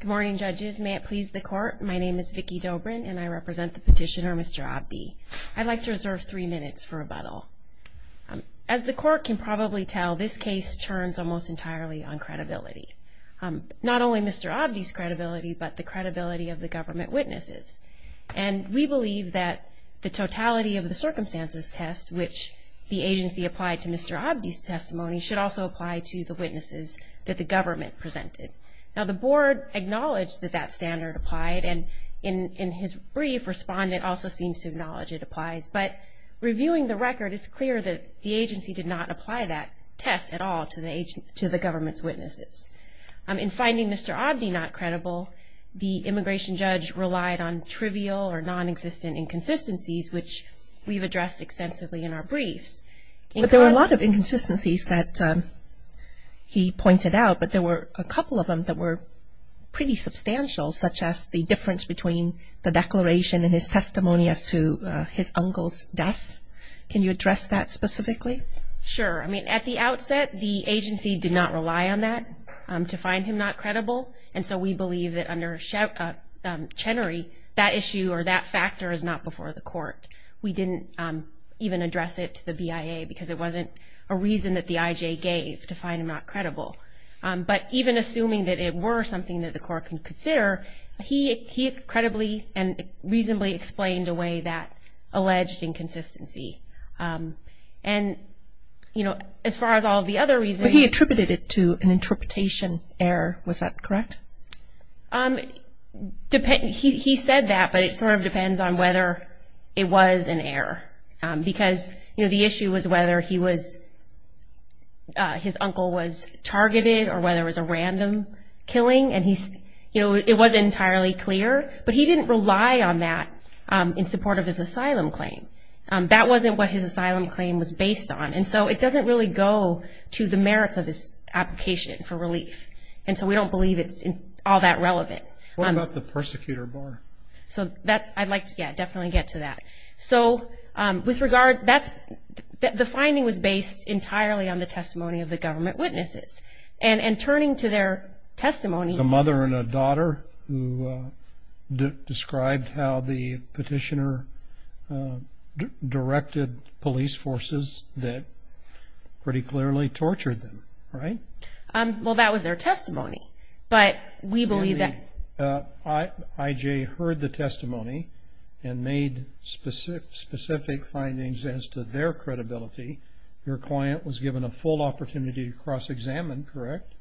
Good morning, judges. May it please the court, my name is Vicki Dobrin and I represent the petitioner Mr. Abdi. I'd like to reserve three minutes for rebuttal. As the court can probably tell, this case turns almost entirely on credibility. Not only Mr. Abdi's credibility, but the credibility of the government witnesses. And we believe that the totality of the circumstances test, which the agency applied to Mr. Abdi's testimony, should also apply to the witnesses that the government presented. Now, the board acknowledged that that standard applied, and in his brief, respondent also seems to acknowledge it applies. But reviewing the record, it's clear that the agency did not apply that test at all to the government's witnesses. In finding Mr. Abdi not credible, the immigration judge relied on trivial or non-existent inconsistencies, which we've addressed extensively in our briefs. But there were a lot of inconsistencies that he pointed out, but there were a couple of them that were pretty substantial, such as the difference between the declaration and his testimony as to his uncle's death. Can you address that specifically? Sure. I mean, at the outset, the agency did not rely on that to find him not credible, and so we believe that under Chenery, that issue or that factor is not before the court. We didn't even address it to the BIA because it wasn't a reason that the IJ gave to find him not credible. But even assuming that it were something that the court could consider, he credibly and reasonably explained away that alleged inconsistency. And, you know, as far as all of the other reasons. But he attributed it to an interpretation error, was that correct? He said that, but it sort of depends on whether it was an error. Because, you know, the issue was whether his uncle was targeted or whether it was a random killing. And, you know, it wasn't entirely clear. But he didn't rely on that in support of his asylum claim. That wasn't what his asylum claim was based on. And so it doesn't really go to the merits of this application for relief. And so we don't believe it's all that relevant. What about the persecutor bar? So I'd like to definitely get to that. So with regard, the finding was based entirely on the testimony of the government witnesses. And turning to their testimony. A mother and a daughter who described how the petitioner directed police forces that pretty clearly tortured them, right? Well, that was their testimony. But we believe that. I.J. heard the testimony and made specific findings as to their credibility. Your client was given a full opportunity to cross-examine, correct?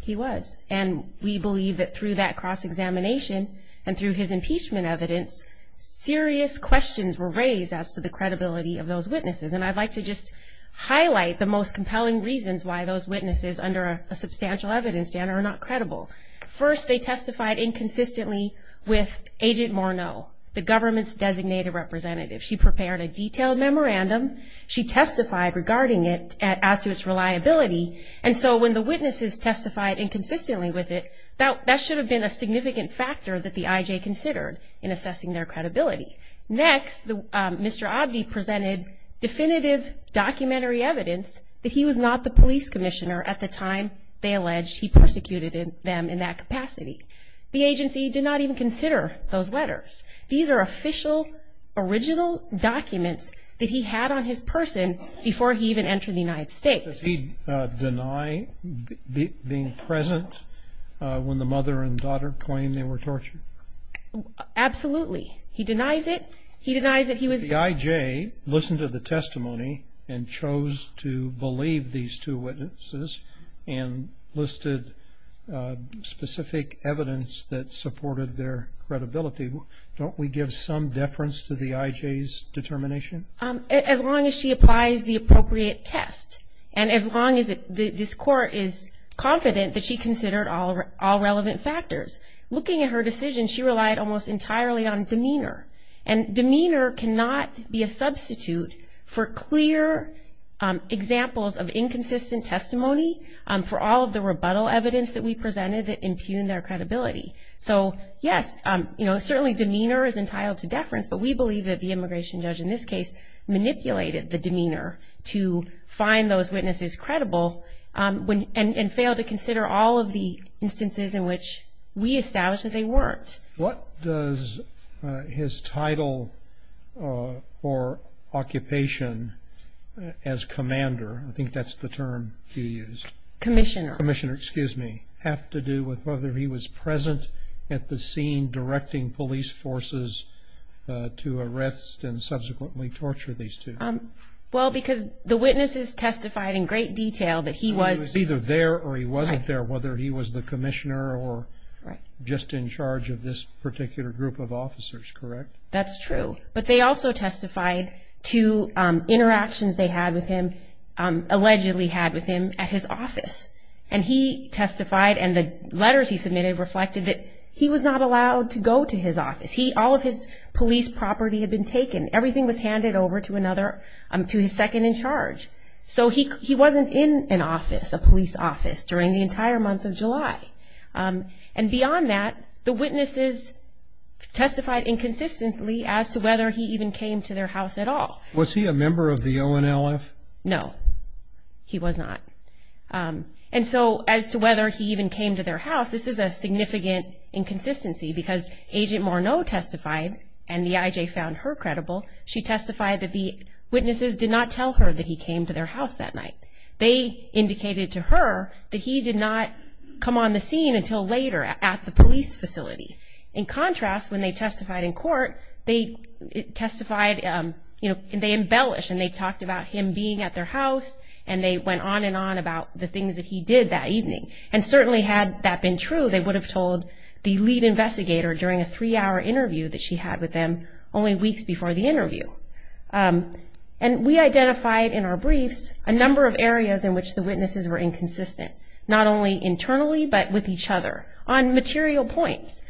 He was. And we believe that through that cross-examination and through his impeachment evidence, serious questions were raised as to the credibility of those witnesses. And I'd like to just highlight the most compelling reasons why those witnesses, under a substantial evidence standard, are not credible. First, they testified inconsistently with Agent Morneau, the government's designated representative. She prepared a detailed memorandum. She testified regarding it as to its reliability. And so when the witnesses testified inconsistently with it, that should have been a significant factor that the I.J. considered in assessing their credibility. Next, Mr. Oddie presented definitive documentary evidence that he was not the police commissioner at the time they alleged he persecuted them in that capacity. The agency did not even consider those letters. These are official, original documents that he had on his person before he even entered the United States. Did he deny being present when the mother and daughter claimed they were tortured? Absolutely. He denies it. He denies that he was there. The I.J. listened to the testimony and chose to believe these two witnesses and listed specific evidence that supported their credibility. Don't we give some deference to the I.J.'s determination? As long as she applies the appropriate test and as long as this court is confident that she considered all relevant factors. Looking at her decision, she relied almost entirely on demeanor. And demeanor cannot be a substitute for clear examples of inconsistent testimony for all of the rebuttal evidence that we presented that impugned their credibility. So, yes, certainly demeanor is entitled to deference, but we believe that the immigration judge in this case manipulated the demeanor to find those witnesses credible and failed to consider all of the instances in which we established that they weren't. What does his title for occupation as commander, I think that's the term you used. Commissioner. Commissioner, excuse me. Have to do with whether he was present at the scene directing police forces to arrest and subsequently torture these two. Well, because the witnesses testified in great detail that he was. He was either there or he wasn't there, whether he was the commissioner or just in charge of this particular group of officers, correct? That's true. But they also testified to interactions they had with him, allegedly had with him at his office. And he testified and the letters he submitted reflected that he was not allowed to go to his office. All of his police property had been taken. Everything was handed over to another, to his second in charge. So he wasn't in an office, a police office, during the entire month of July. And beyond that, the witnesses testified inconsistently as to whether he even came to their house at all. Was he a member of the ONLF? No, he was not. And so as to whether he even came to their house, this is a significant inconsistency because Agent Morneau testified and the IJ found her credible. She testified that the witnesses did not tell her that he came to their house that night. They indicated to her that he did not come on the scene until later at the police facility. In contrast, when they testified in court, they testified, you know, they embellished and they talked about him being at their house and they went on and on about the things that he did that evening. And certainly had that been true, they would have told the lead investigator during a three-hour interview that she had with them only weeks before the interview. And we identified in our briefs a number of areas in which the witnesses were inconsistent, not only internally but with each other on material points.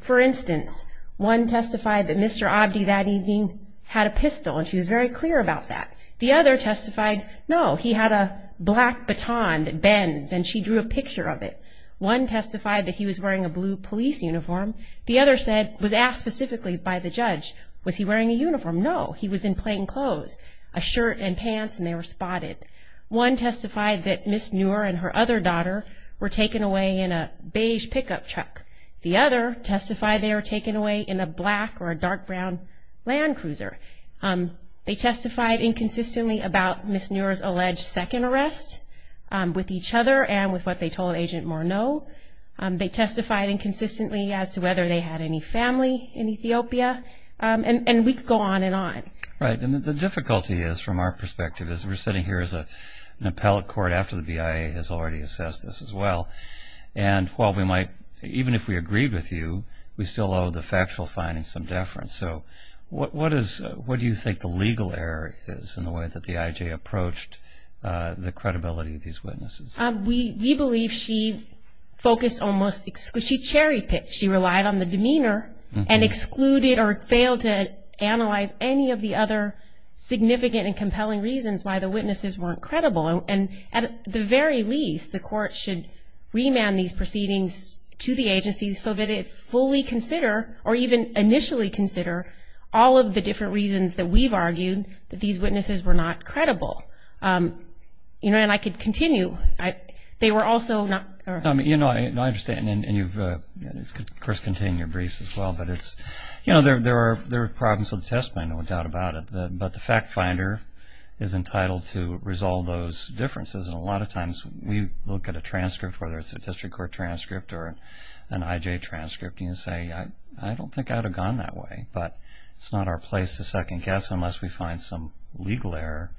For instance, one testified that Mr. Abdi that evening had a pistol and she was very clear about that. The other testified, no, he had a black baton that bends and she drew a picture of it. One testified that he was wearing a blue police uniform. The other said, was asked specifically by the judge, was he wearing a uniform? No, he was in plain clothes, a shirt and pants and they were spotted. One testified that Ms. Neuer and her other daughter were taken away in a beige pickup truck. The other testified they were taken away in a black or a dark brown Land Cruiser. They testified inconsistently about Ms. Neuer's alleged second arrest with each other and with what they told Agent Morneau. They testified inconsistently as to whether they had any family in Ethiopia. And we could go on and on. Right. And the difficulty is, from our perspective, is we're sitting here as an appellate court after the BIA has already assessed this as well. And while we might, even if we agreed with you, we still owe the factual findings some deference. So what do you think the legal error is in the way that the IJ approached the credibility of these witnesses? We believe she focused almost exclusively, she cherry-picked. She relied on the demeanor and excluded or failed to analyze any of the other significant and compelling reasons why the witnesses weren't credible. And at the very least, the court should remand these proceedings to the agency so that it fully consider or even initially consider all of the different reasons that we've argued that these witnesses were not credible. You know, and I could continue. They were also not. You know, I understand. And you've, of course, contained your briefs as well. But it's, you know, there are problems with the testimony, no doubt about it. But the fact finder is entitled to resolve those differences. And a lot of times we look at a transcript, whether it's a district court transcript or an IJ transcript, and say, I don't think I would have gone that way. But it's not our place to second-guess unless we find some legal error,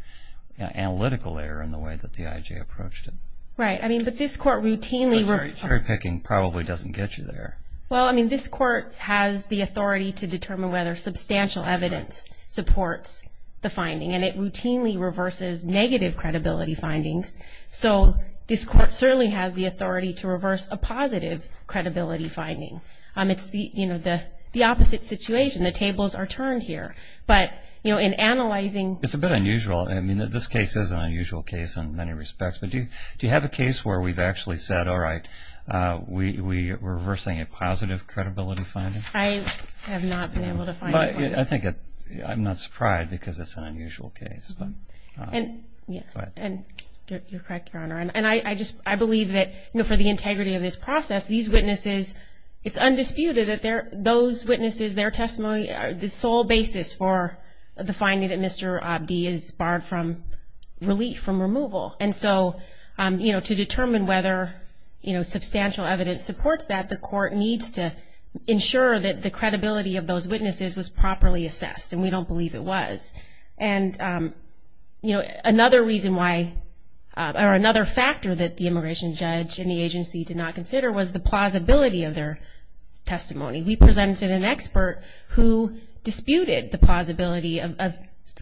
analytical error in the way that the IJ approached it. Right. I mean, but this court routinely reverses. So cherry-picking probably doesn't get you there. Well, I mean, this court has the authority to determine whether substantial evidence supports the finding. And it routinely reverses negative credibility findings. So this court certainly has the authority to reverse a positive credibility finding. It's, you know, the opposite situation. The tables are turned here. But, you know, in analyzing. It's a bit unusual. I mean, this case is an unusual case in many respects. But do you have a case where we've actually said, all right, we're reversing a positive credibility finding? I have not been able to find it. I think I'm not surprised because it's an unusual case. And you're correct, Your Honor. And I believe that, you know, for the integrity of this process, these witnesses, it's undisputed that those witnesses, their testimony, are the sole basis for the finding that Mr. Abdi is barred from relief, from removal. And so, you know, to determine whether, you know, substantial evidence supports that, the court needs to ensure that the credibility of those witnesses was properly assessed. And we don't believe it was. And, you know, another reason why or another factor that the immigration judge and the agency did not consider was the plausibility of their testimony. We presented an expert who disputed the plausibility of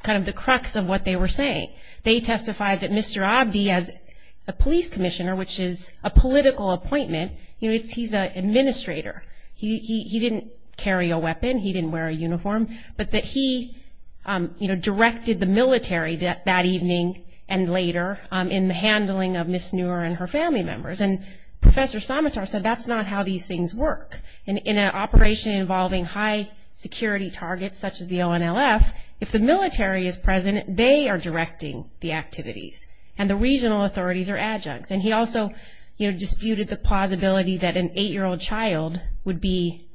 kind of the crux of what they were saying. They testified that Mr. Abdi, as a police commissioner, which is a political appointment, you know, he's an administrator. He didn't carry a weapon. He didn't wear a uniform. But that he, you know, directed the military that evening and later in the handling of Ms. Neuer and her family members. And Professor Samatar said that's not how these things work. In an operation involving high-security targets such as the ONLF, if the military is present, they are directing the activities, and the regional authorities are adjuncts. And he also, you know, disputed the plausibility that an 8-year-old child would be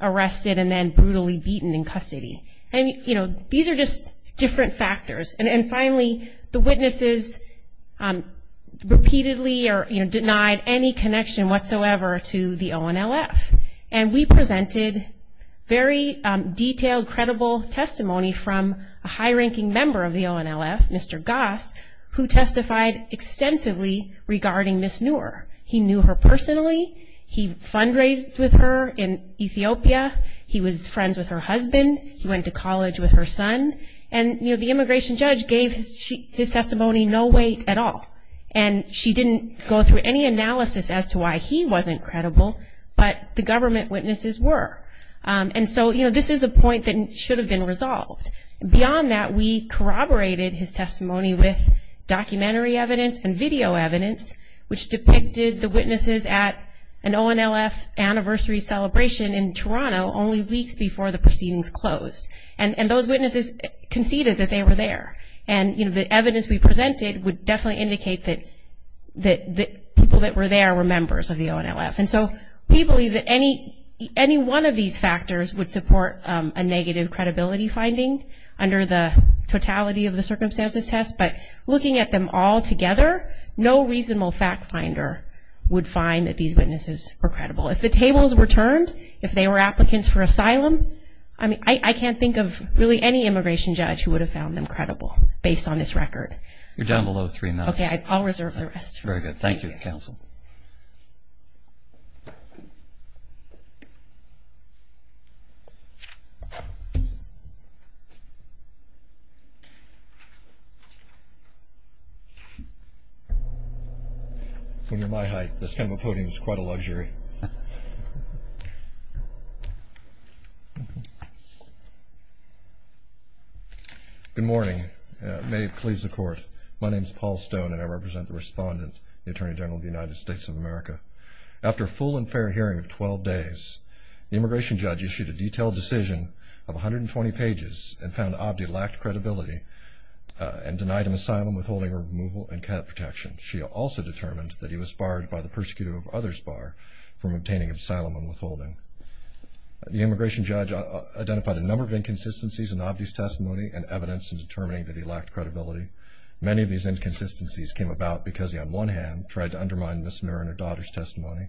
arrested and then brutally beaten in custody. And, you know, these are just different factors. And finally, the witnesses repeatedly denied any connection whatsoever to the ONLF. And we presented very detailed, credible testimony from a high-ranking member of the ONLF, Mr. Goss, who testified extensively regarding Ms. Neuer. He knew her personally. He fundraised with her in Ethiopia. He was friends with her husband. He went to college with her son. And, you know, the immigration judge gave his testimony no weight at all. And she didn't go through any analysis as to why he wasn't credible, but the government witnesses were. And so, you know, this is a point that should have been resolved. Beyond that, we corroborated his testimony with documentary evidence and video evidence, which depicted the witnesses at an ONLF anniversary celebration in Toronto only weeks before the proceedings closed. And those witnesses conceded that they were there. And, you know, the evidence we presented would definitely indicate that people that were there were members of the ONLF. And so we believe that any one of these factors would support a negative credibility finding under the totality of the circumstances test. But looking at them all together, no reasonable fact finder would find that these witnesses were credible. If the tables were turned, if they were applicants for asylum, I mean, I can't think of really any immigration judge who would have found them credible based on this record. You're down below three minutes. Okay, I'll reserve the rest. That's very good. Thank you, Counsel. When you're my height, this kind of a podium is quite a luxury. Good morning. May it please the Court. My name is Paul Stone, and I represent the respondent, the Attorney General of the United States of America. After a full and fair hearing of 12 days, the immigration judge issued a detailed decision of 120 pages and found Abdi lacked credibility and denied him asylum, withholding removal, and cat protection. She also determined that he was barred by the persecutor of others bar from obtaining asylum and withholding. The immigration judge identified a number of inconsistencies in Abdi's testimony and evidence in determining that he lacked credibility. Many of these inconsistencies came about because he, on one hand, tried to undermine Ms. Mirren and her daughter's testimony,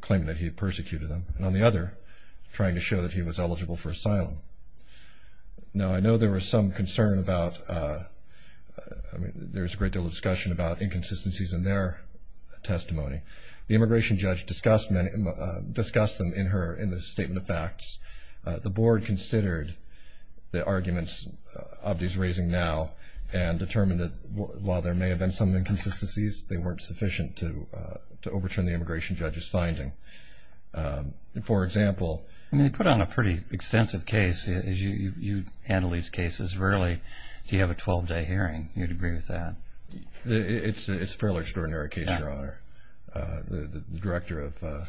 claiming that he had persecuted them, and on the other, trying to show that he was eligible for asylum. Now, I know there was some concern about, I mean, there was a great deal of discussion about inconsistencies in their testimony. The immigration judge discussed them in her statement of facts. The board considered the arguments Abdi's raising now and determined that while there may have been some inconsistencies, they weren't sufficient to overturn the immigration judge's finding. For example— I mean, they put on a pretty extensive case. You handle these cases rarely. If you have a 12-day hearing, you'd agree with that. It's a fairly extraordinary case, Your Honor. The director of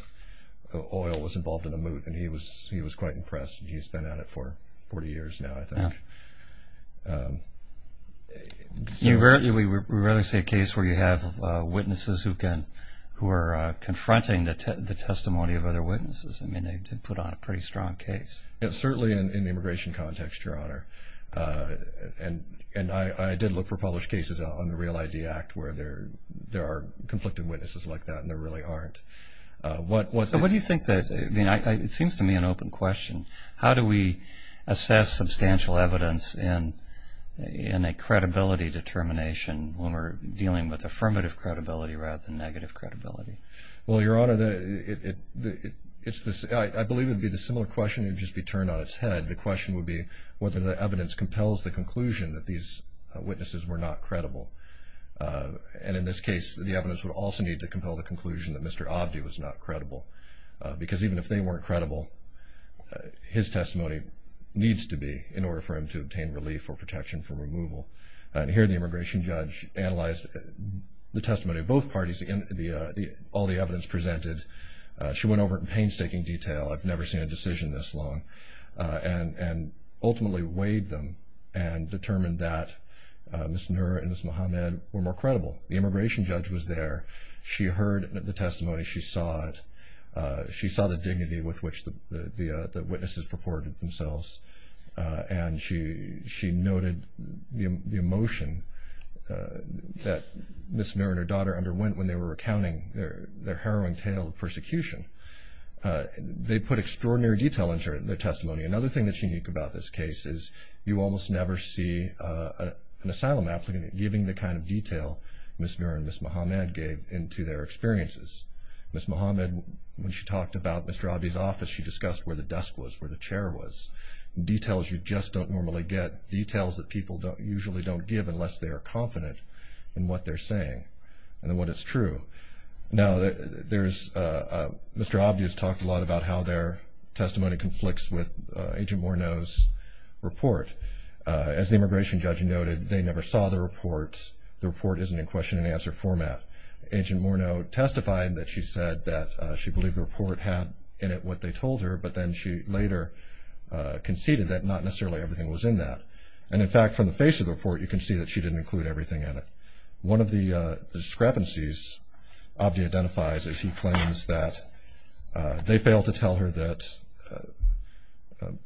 oil was involved in the moot, and he was quite impressed. He's been at it for 40 years now, I think. We rarely see a case where you have witnesses who are confronting the testimony of other witnesses. I mean, they did put on a pretty strong case. Certainly in the immigration context, Your Honor. And I did look for published cases on the REAL-ID Act where there are conflicted witnesses like that, and there really aren't. So what do you think that—I mean, it seems to me an open question. How do we assess substantial evidence in a credibility determination when we're dealing with affirmative credibility rather than negative credibility? Well, Your Honor, I believe it would be the similar question, it would just be turned on its head. The question would be whether the evidence compels the conclusion that these witnesses were not credible. And in this case, the evidence would also need to compel the conclusion that Mr. Abdi was not credible, because even if they weren't credible, his testimony needs to be in order for him to obtain relief or protection from removal. And here the immigration judge analyzed the testimony of both parties, all the evidence presented. She went over it in painstaking detail. I've never seen a decision this long, and ultimately weighed them and determined that Ms. Noor and Ms. Mohammed were more credible. The immigration judge was there. She heard the testimony. She saw it. She saw the dignity with which the witnesses purported themselves. And she noted the emotion that Ms. Noor and her daughter underwent when they were recounting their harrowing tale of persecution. They put extraordinary detail into their testimony. Another thing that's unique about this case is you almost never see an asylum applicant giving the kind of detail Ms. Noor and Ms. Mohammed gave into their experiences. Ms. Mohammed, when she talked about Mr. Abdi's office, she discussed where the desk was, where the chair was, details you just don't normally get, details that people usually don't give unless they are confident in what they're saying and what is true. Now, Mr. Abdi has talked a lot about how their testimony conflicts with Agent Morneau's report. As the immigration judge noted, they never saw the report. The report isn't in question-and-answer format. Agent Morneau testified that she said that she believed the report had in it what they told her, but then she later conceded that not necessarily everything was in that. And, in fact, from the face of the report, you can see that she didn't include everything in it. One of the discrepancies Abdi identifies is he claims that they failed to tell her that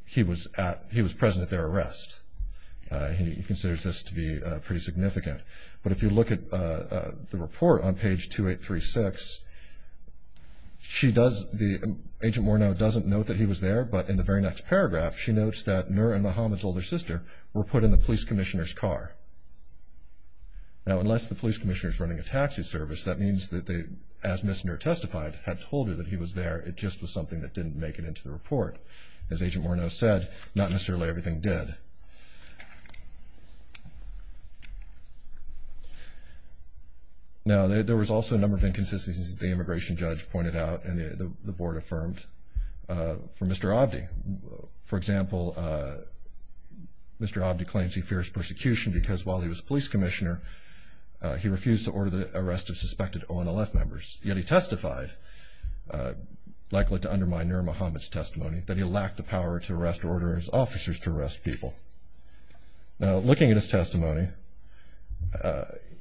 he was present at their arrest. He considers this to be pretty significant. But if you look at the report on page 2836, Agent Morneau doesn't note that he was there, but in the very next paragraph she notes that Nur and Muhammad's older sister were put in the police commissioner's car. Now, unless the police commissioner is running a taxi service, that means that they, as Ms. Nur testified, had told her that he was there. It just was something that didn't make it into the report. As Agent Morneau said, not necessarily everything did. Now, there was also a number of inconsistencies that the immigration judge pointed out and the board affirmed for Mr. Abdi. For example, Mr. Abdi claims he fears persecution because while he was police commissioner, he refused to order the arrest of suspected ONLF members. Yet he testified, likely to undermine Nur and Muhammad's testimony, that he lacked the power to arrest orders officers to arrest people. Now, looking at his testimony,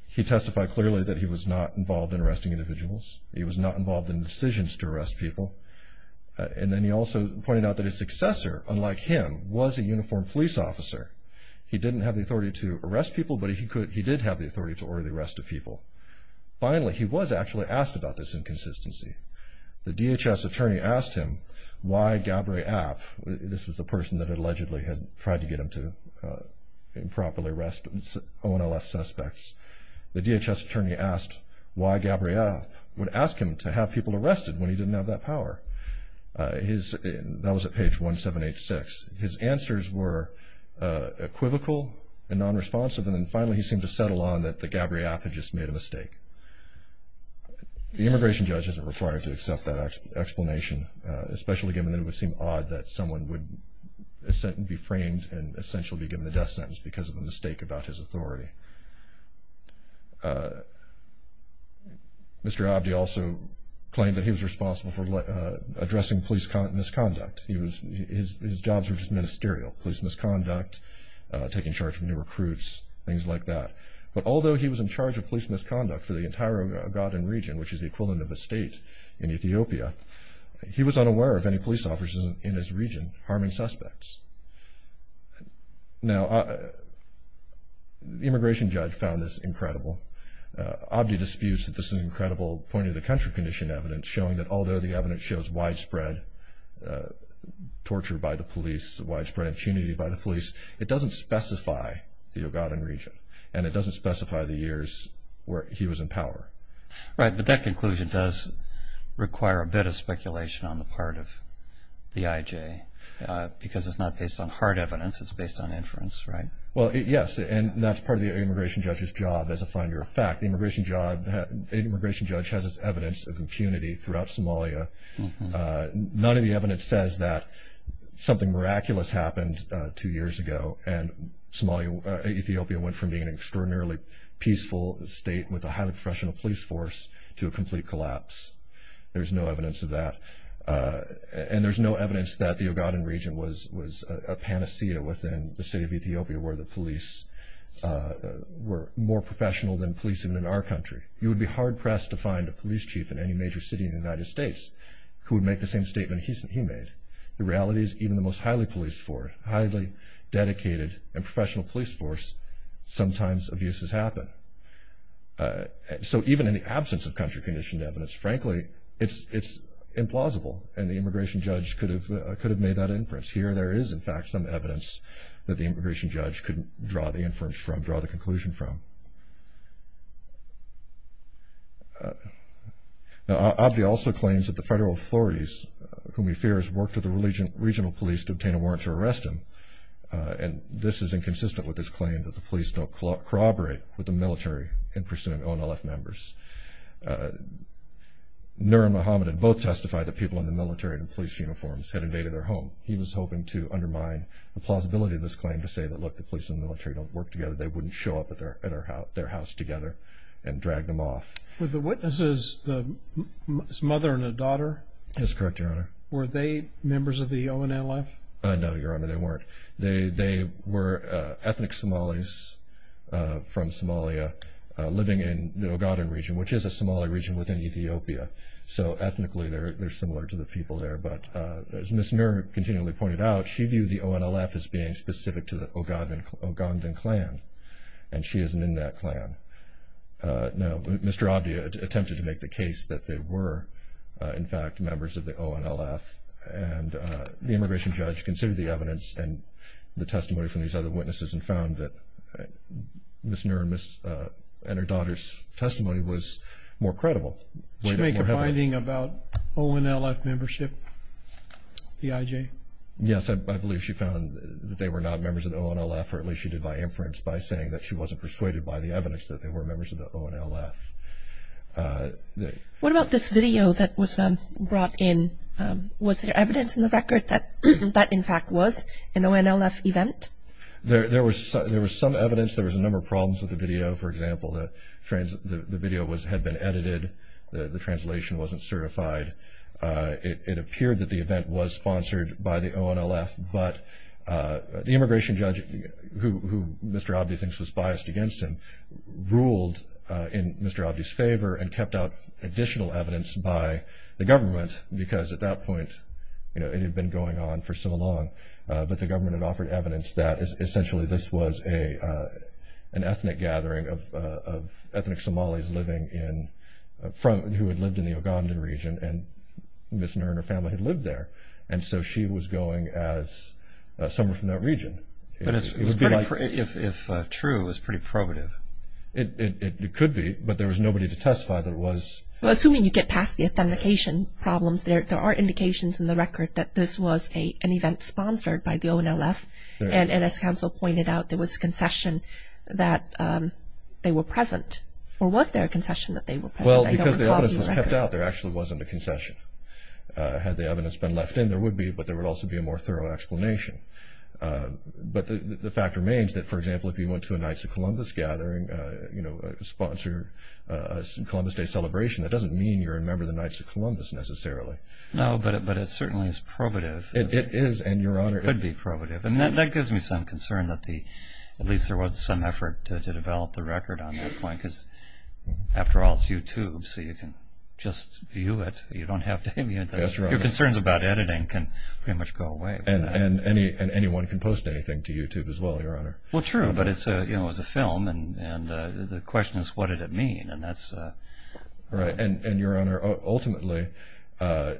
he testified clearly that he was not involved in arresting individuals. He was not involved in decisions to arrest people. And then he also pointed out that his successor, unlike him, was a uniformed police officer. He didn't have the authority to arrest people, but he did have the authority to order the arrest of people. Finally, he was actually asked about this inconsistency. The DHS attorney asked him why Gabriel, this was the person that allegedly had tried to get him to improperly arrest ONLF suspects, the DHS attorney asked why Gabriel would ask him to have people arrested when he didn't have that power. That was at page 1786. His answers were equivocal and nonresponsive, and then finally he seemed to settle on that Gabriel had just made a mistake. The immigration judge isn't required to accept that explanation, especially given that it would seem odd that someone would be framed and essentially be given the death sentence because of a mistake about his authority. Mr. Abdi also claimed that he was responsible for addressing police misconduct. His jobs were just ministerial, police misconduct, taking charge of new recruits, things like that. But although he was in charge of police misconduct for the entire Ogaden region, which is the equivalent of a state in Ethiopia, he was unaware of any police officers in his region harming suspects. Now, the immigration judge found this incredible. Abdi disputes that this is an incredible point-of-the-country condition evidence, showing that although the evidence shows widespread torture by the police, widespread impunity by the police, it doesn't specify the Ogaden region, and it doesn't specify the years where he was in power. Right, but that conclusion does require a bit of speculation on the part of the IJ because it's not based on hard evidence, it's based on inference, right? Well, yes, and that's part of the immigration judge's job as a finder of fact. The immigration judge has this evidence of impunity throughout Somalia. None of the evidence says that something miraculous happened two years ago and Ethiopia went from being an extraordinarily peaceful state with a highly professional police force to a complete collapse. There's no evidence of that, and there's no evidence that the Ogaden region was a panacea within the state of Ethiopia where the police were more professional than policing in our country. You would be hard-pressed to find a police chief in any major city in the United States who would make the same statement he made. The reality is even the most highly policed force, highly dedicated and professional police force, sometimes abuses happen. So even in the absence of country-conditioned evidence, frankly, it's implausible, and the immigration judge could have made that inference. Here there is, in fact, some evidence that the immigration judge could draw the inference from, draw the conclusion from. Now, Abdi also claims that the federal authorities, whom he fears, work to the regional police to obtain a warrant to arrest him, and this is inconsistent with his claim that the police don't corroborate with the military in pursuing ONLF members. Nur and Mohammed had both testified that people in the military in police uniforms had invaded their home. He was hoping to undermine the plausibility of this claim to say that, look, the police and the military don't work together, they wouldn't show up at their house together and drag them off. Were the witnesses his mother and a daughter? That's correct, Your Honor. Were they members of the ONLF? No, Your Honor, they weren't. They were ethnic Somalis from Somalia living in the Ogaden region, which is a Somali region within Ethiopia, so ethnically they're similar to the people there. But as Ms. Nur continually pointed out, she viewed the ONLF as being specific to the Ogaden clan, and she isn't in that clan. Now, Mr. Abdi attempted to make the case that they were, in fact, members of the ONLF, and the immigration judge considered the evidence and the testimony from these other witnesses and found that Ms. Nur and her daughter's testimony was more credible. Did she make a finding about ONLF membership, the IJ? Yes, I believe she found that they were not members of the ONLF, or at least she did by inference by saying that she wasn't persuaded by the evidence that they were members of the ONLF. What about this video that was brought in? Was there evidence in the record that that, in fact, was an ONLF event? There was some evidence. There was a number of problems with the video. For example, the video had been edited. The translation wasn't certified. It appeared that the event was sponsored by the ONLF, but the immigration judge, who Mr. Abdi thinks was biased against him, ruled in Mr. Abdi's favor and kept out additional evidence by the government because, at that point, it had been going on for so long, but the government had offered evidence that, essentially, this was an ethnic gathering of ethnic Somalis who had lived in the Ugandan region, and Ms. Nur and her family had lived there. And so she was going as someone from that region. But if true, it was pretty probative. It could be, but there was nobody to testify that it was. Well, assuming you get past the authentication problems, there are indications in the record that this was an event sponsored by the ONLF, and as counsel pointed out, there was a concession that they were present. Or was there a concession that they were present? Had the evidence been left in, there would be, but there would also be a more thorough explanation. But the fact remains that, for example, if you went to a Knights of Columbus gathering, sponsor a Columbus Day celebration, that doesn't mean you're a member of the Knights of Columbus necessarily. No, but it certainly is probative. It is, and Your Honor, it could be probative. And that gives me some concern that at least there was some effort to develop the record on that point because, after all, it's YouTube, so you can just view it. You don't have to view it. That's right. Your concerns about editing can pretty much go away. And anyone can post anything to YouTube as well, Your Honor. Well, true, but it was a film, and the question is, what did it mean? Right. And, Your Honor, ultimately, under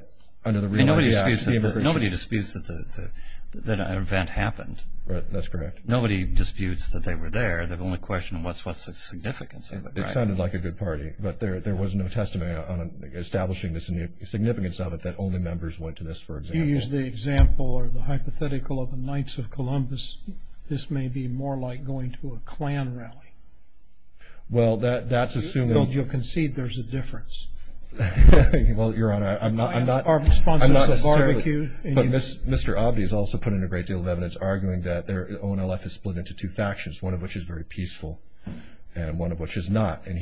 the Real Entity Act… Nobody disputes that an event happened. Right, that's correct. Nobody disputes that they were there. The only question is, what's the significance of it, right? It sounded like a good party, but there was no testimony on establishing the significance of it that only members went to this, for example. If you use the example or the hypothetical of the Knights of Columbus, this may be more like going to a Klan rally. Well, that's assuming… Well, you'll concede there's a difference. Well, Your Honor, I'm not necessarily… But Mr. Abdi has also put in a great deal of evidence arguing that ONLF is split into two factions, one of which is very peaceful and one of which is not. And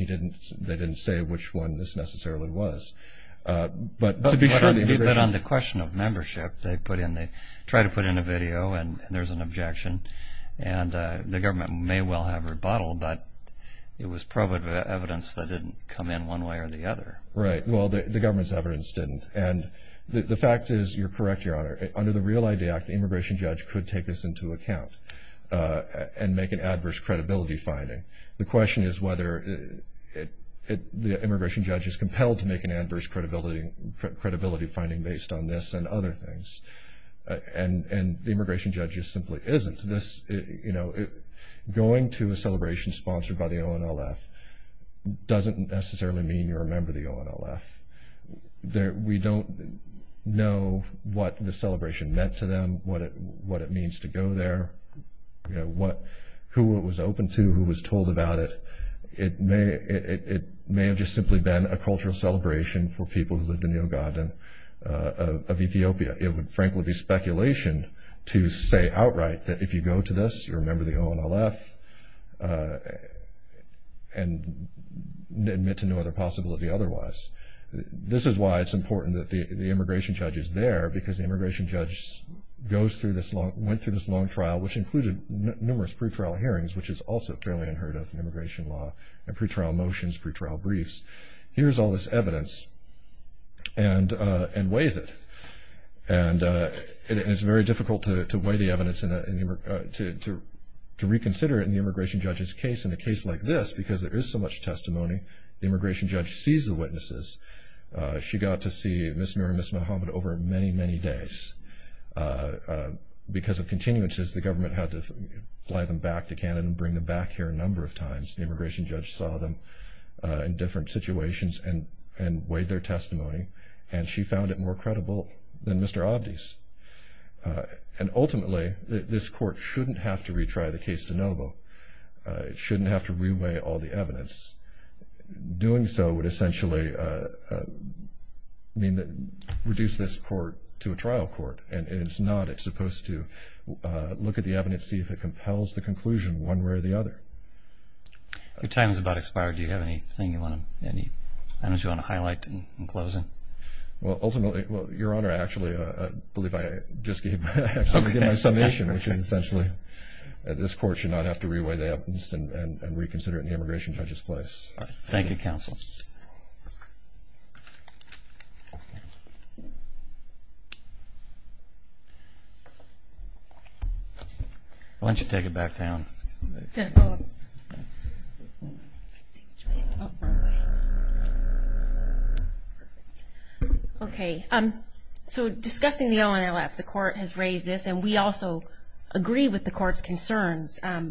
they didn't say which one this necessarily was. But to be sure… But on the question of membership, they try to put in a video, and there's an objection. And the government may well have rebuttaled, but it was probably evidence that didn't come in one way or the other. Right. Well, the government's evidence didn't. And the fact is, you're correct, Your Honor, under the Real Entity Act, the immigration judge could take this into account and make an adverse credibility finding. The question is whether the immigration judge is compelled to make an adverse credibility finding based on this and other things. And the immigration judge just simply isn't. Going to a celebration sponsored by the ONLF doesn't necessarily mean you're a member of the ONLF. We don't know what the celebration meant to them, what it means to go there, who it was open to, who was told about it. It may have just simply been a cultural celebration for people who lived in the Ogaden of Ethiopia. It would, frankly, be speculation to say outright that if you go to this, you're a member of the ONLF and admit to no other possibility otherwise. This is why it's important that the immigration judge is there, because the immigration judge went through this long trial, which included numerous pretrial hearings, which is also fairly unheard of in immigration law, and pretrial motions, pretrial briefs. Here's all this evidence and weighs it. And it's very difficult to weigh the evidence and to reconsider it in the immigration judge's case. In a case like this, because there is so much testimony, the immigration judge sees the witnesses. She got to see Ms. Noor and Ms. Muhammad over many, many days. Because of continuances, the government had to fly them back to Canada and bring them back here a number of times. The immigration judge saw them in different situations and weighed their testimony, and she found it more credible than Mr. Abdi's. And ultimately, this court shouldn't have to retry the case de novo. It shouldn't have to reweigh all the evidence. Doing so would essentially reduce this court to a trial court, and it's not. It's supposed to look at the evidence, see if it compels the conclusion one way or the other. Your time has about expired. Do you have anything you want to highlight in closing? Well, ultimately, Your Honor, I actually believe I just gave my summation, which is essentially that this court should not have to reweigh the evidence and reconsider it in the immigration judge's place. Thank you, counsel. Why don't you take it back down? Okay. So discussing the ONLF, the court has raised this, and we also agree with the court's concerns. I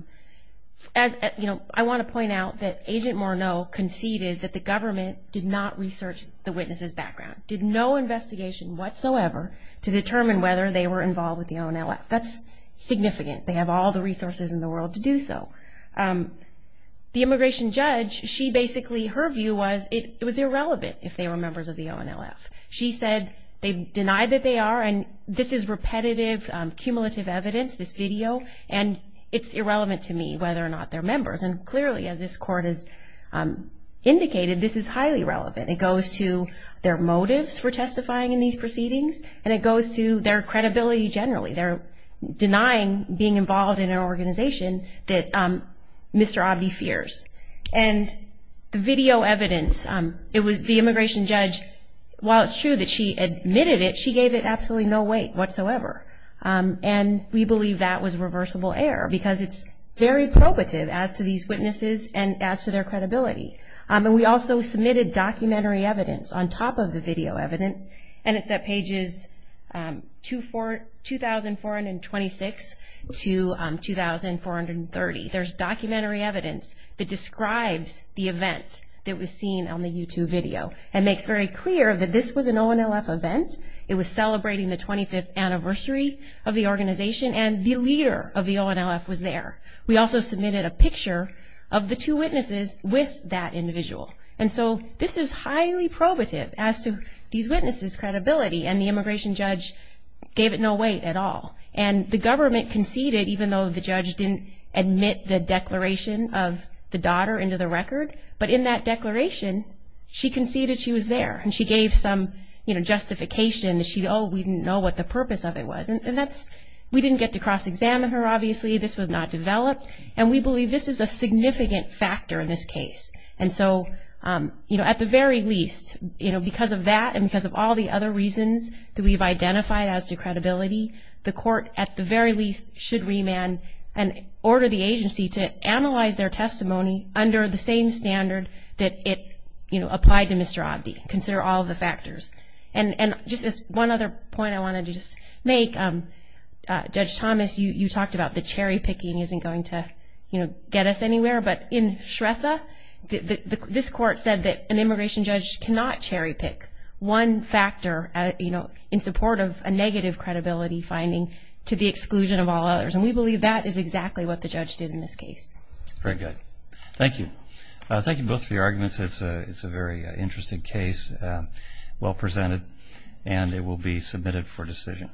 want to point out that Agent Morneau conceded that the government did not research the witnesses' background, did no investigation whatsoever to determine whether they were involved with the ONLF. That's significant. They have all the resources in the world to do so. The immigration judge, she basically, her view was it was irrelevant if they were members of the ONLF. She said they denied that they are, and this is repetitive, cumulative evidence, this video, and it's irrelevant to me whether or not they're members. And clearly, as this court has indicated, this is highly relevant. It goes to their motives for testifying in these proceedings, and it goes to their credibility generally. They're denying being involved in an organization that Mr. Abdi fears. And the video evidence, it was the immigration judge, while it's true that she admitted it, she gave it absolutely no weight whatsoever, and we believe that was reversible error because it's very probative as to these witnesses and as to their credibility. And we also submitted documentary evidence on top of the video evidence, and it's at pages 2,426 to 2,430. There's documentary evidence that describes the event that was seen on the YouTube video and makes very clear that this was an ONLF event. It was celebrating the 25th anniversary of the organization, and the leader of the ONLF was there. We also submitted a picture of the two witnesses with that individual. And so this is highly probative as to these witnesses' credibility, and the immigration judge gave it no weight at all. And the government conceded, even though the judge didn't admit the declaration of the daughter into the record, but in that declaration, she conceded she was there, and she gave some justification that, oh, we didn't know what the purpose of it was. We didn't get to cross-examine her, obviously. This was not developed. And we believe this is a significant factor in this case. And so, you know, at the very least, you know, because of that and because of all the other reasons that we've identified as to credibility, the court at the very least should remand and order the agency to analyze their testimony under the same standard that it, you know, applied to Mr. Abdi. Consider all of the factors. And just as one other point I wanted to just make, Judge Thomas, you talked about the cherry-picking isn't going to, you know, get us anywhere. But in Shretha, this court said that an immigration judge cannot cherry-pick one factor, you know, in support of a negative credibility finding to the exclusion of all others. And we believe that is exactly what the judge did in this case. Very good. Thank you. Thank you both for your arguments. It's a very interesting case, well presented, and it will be submitted for decision.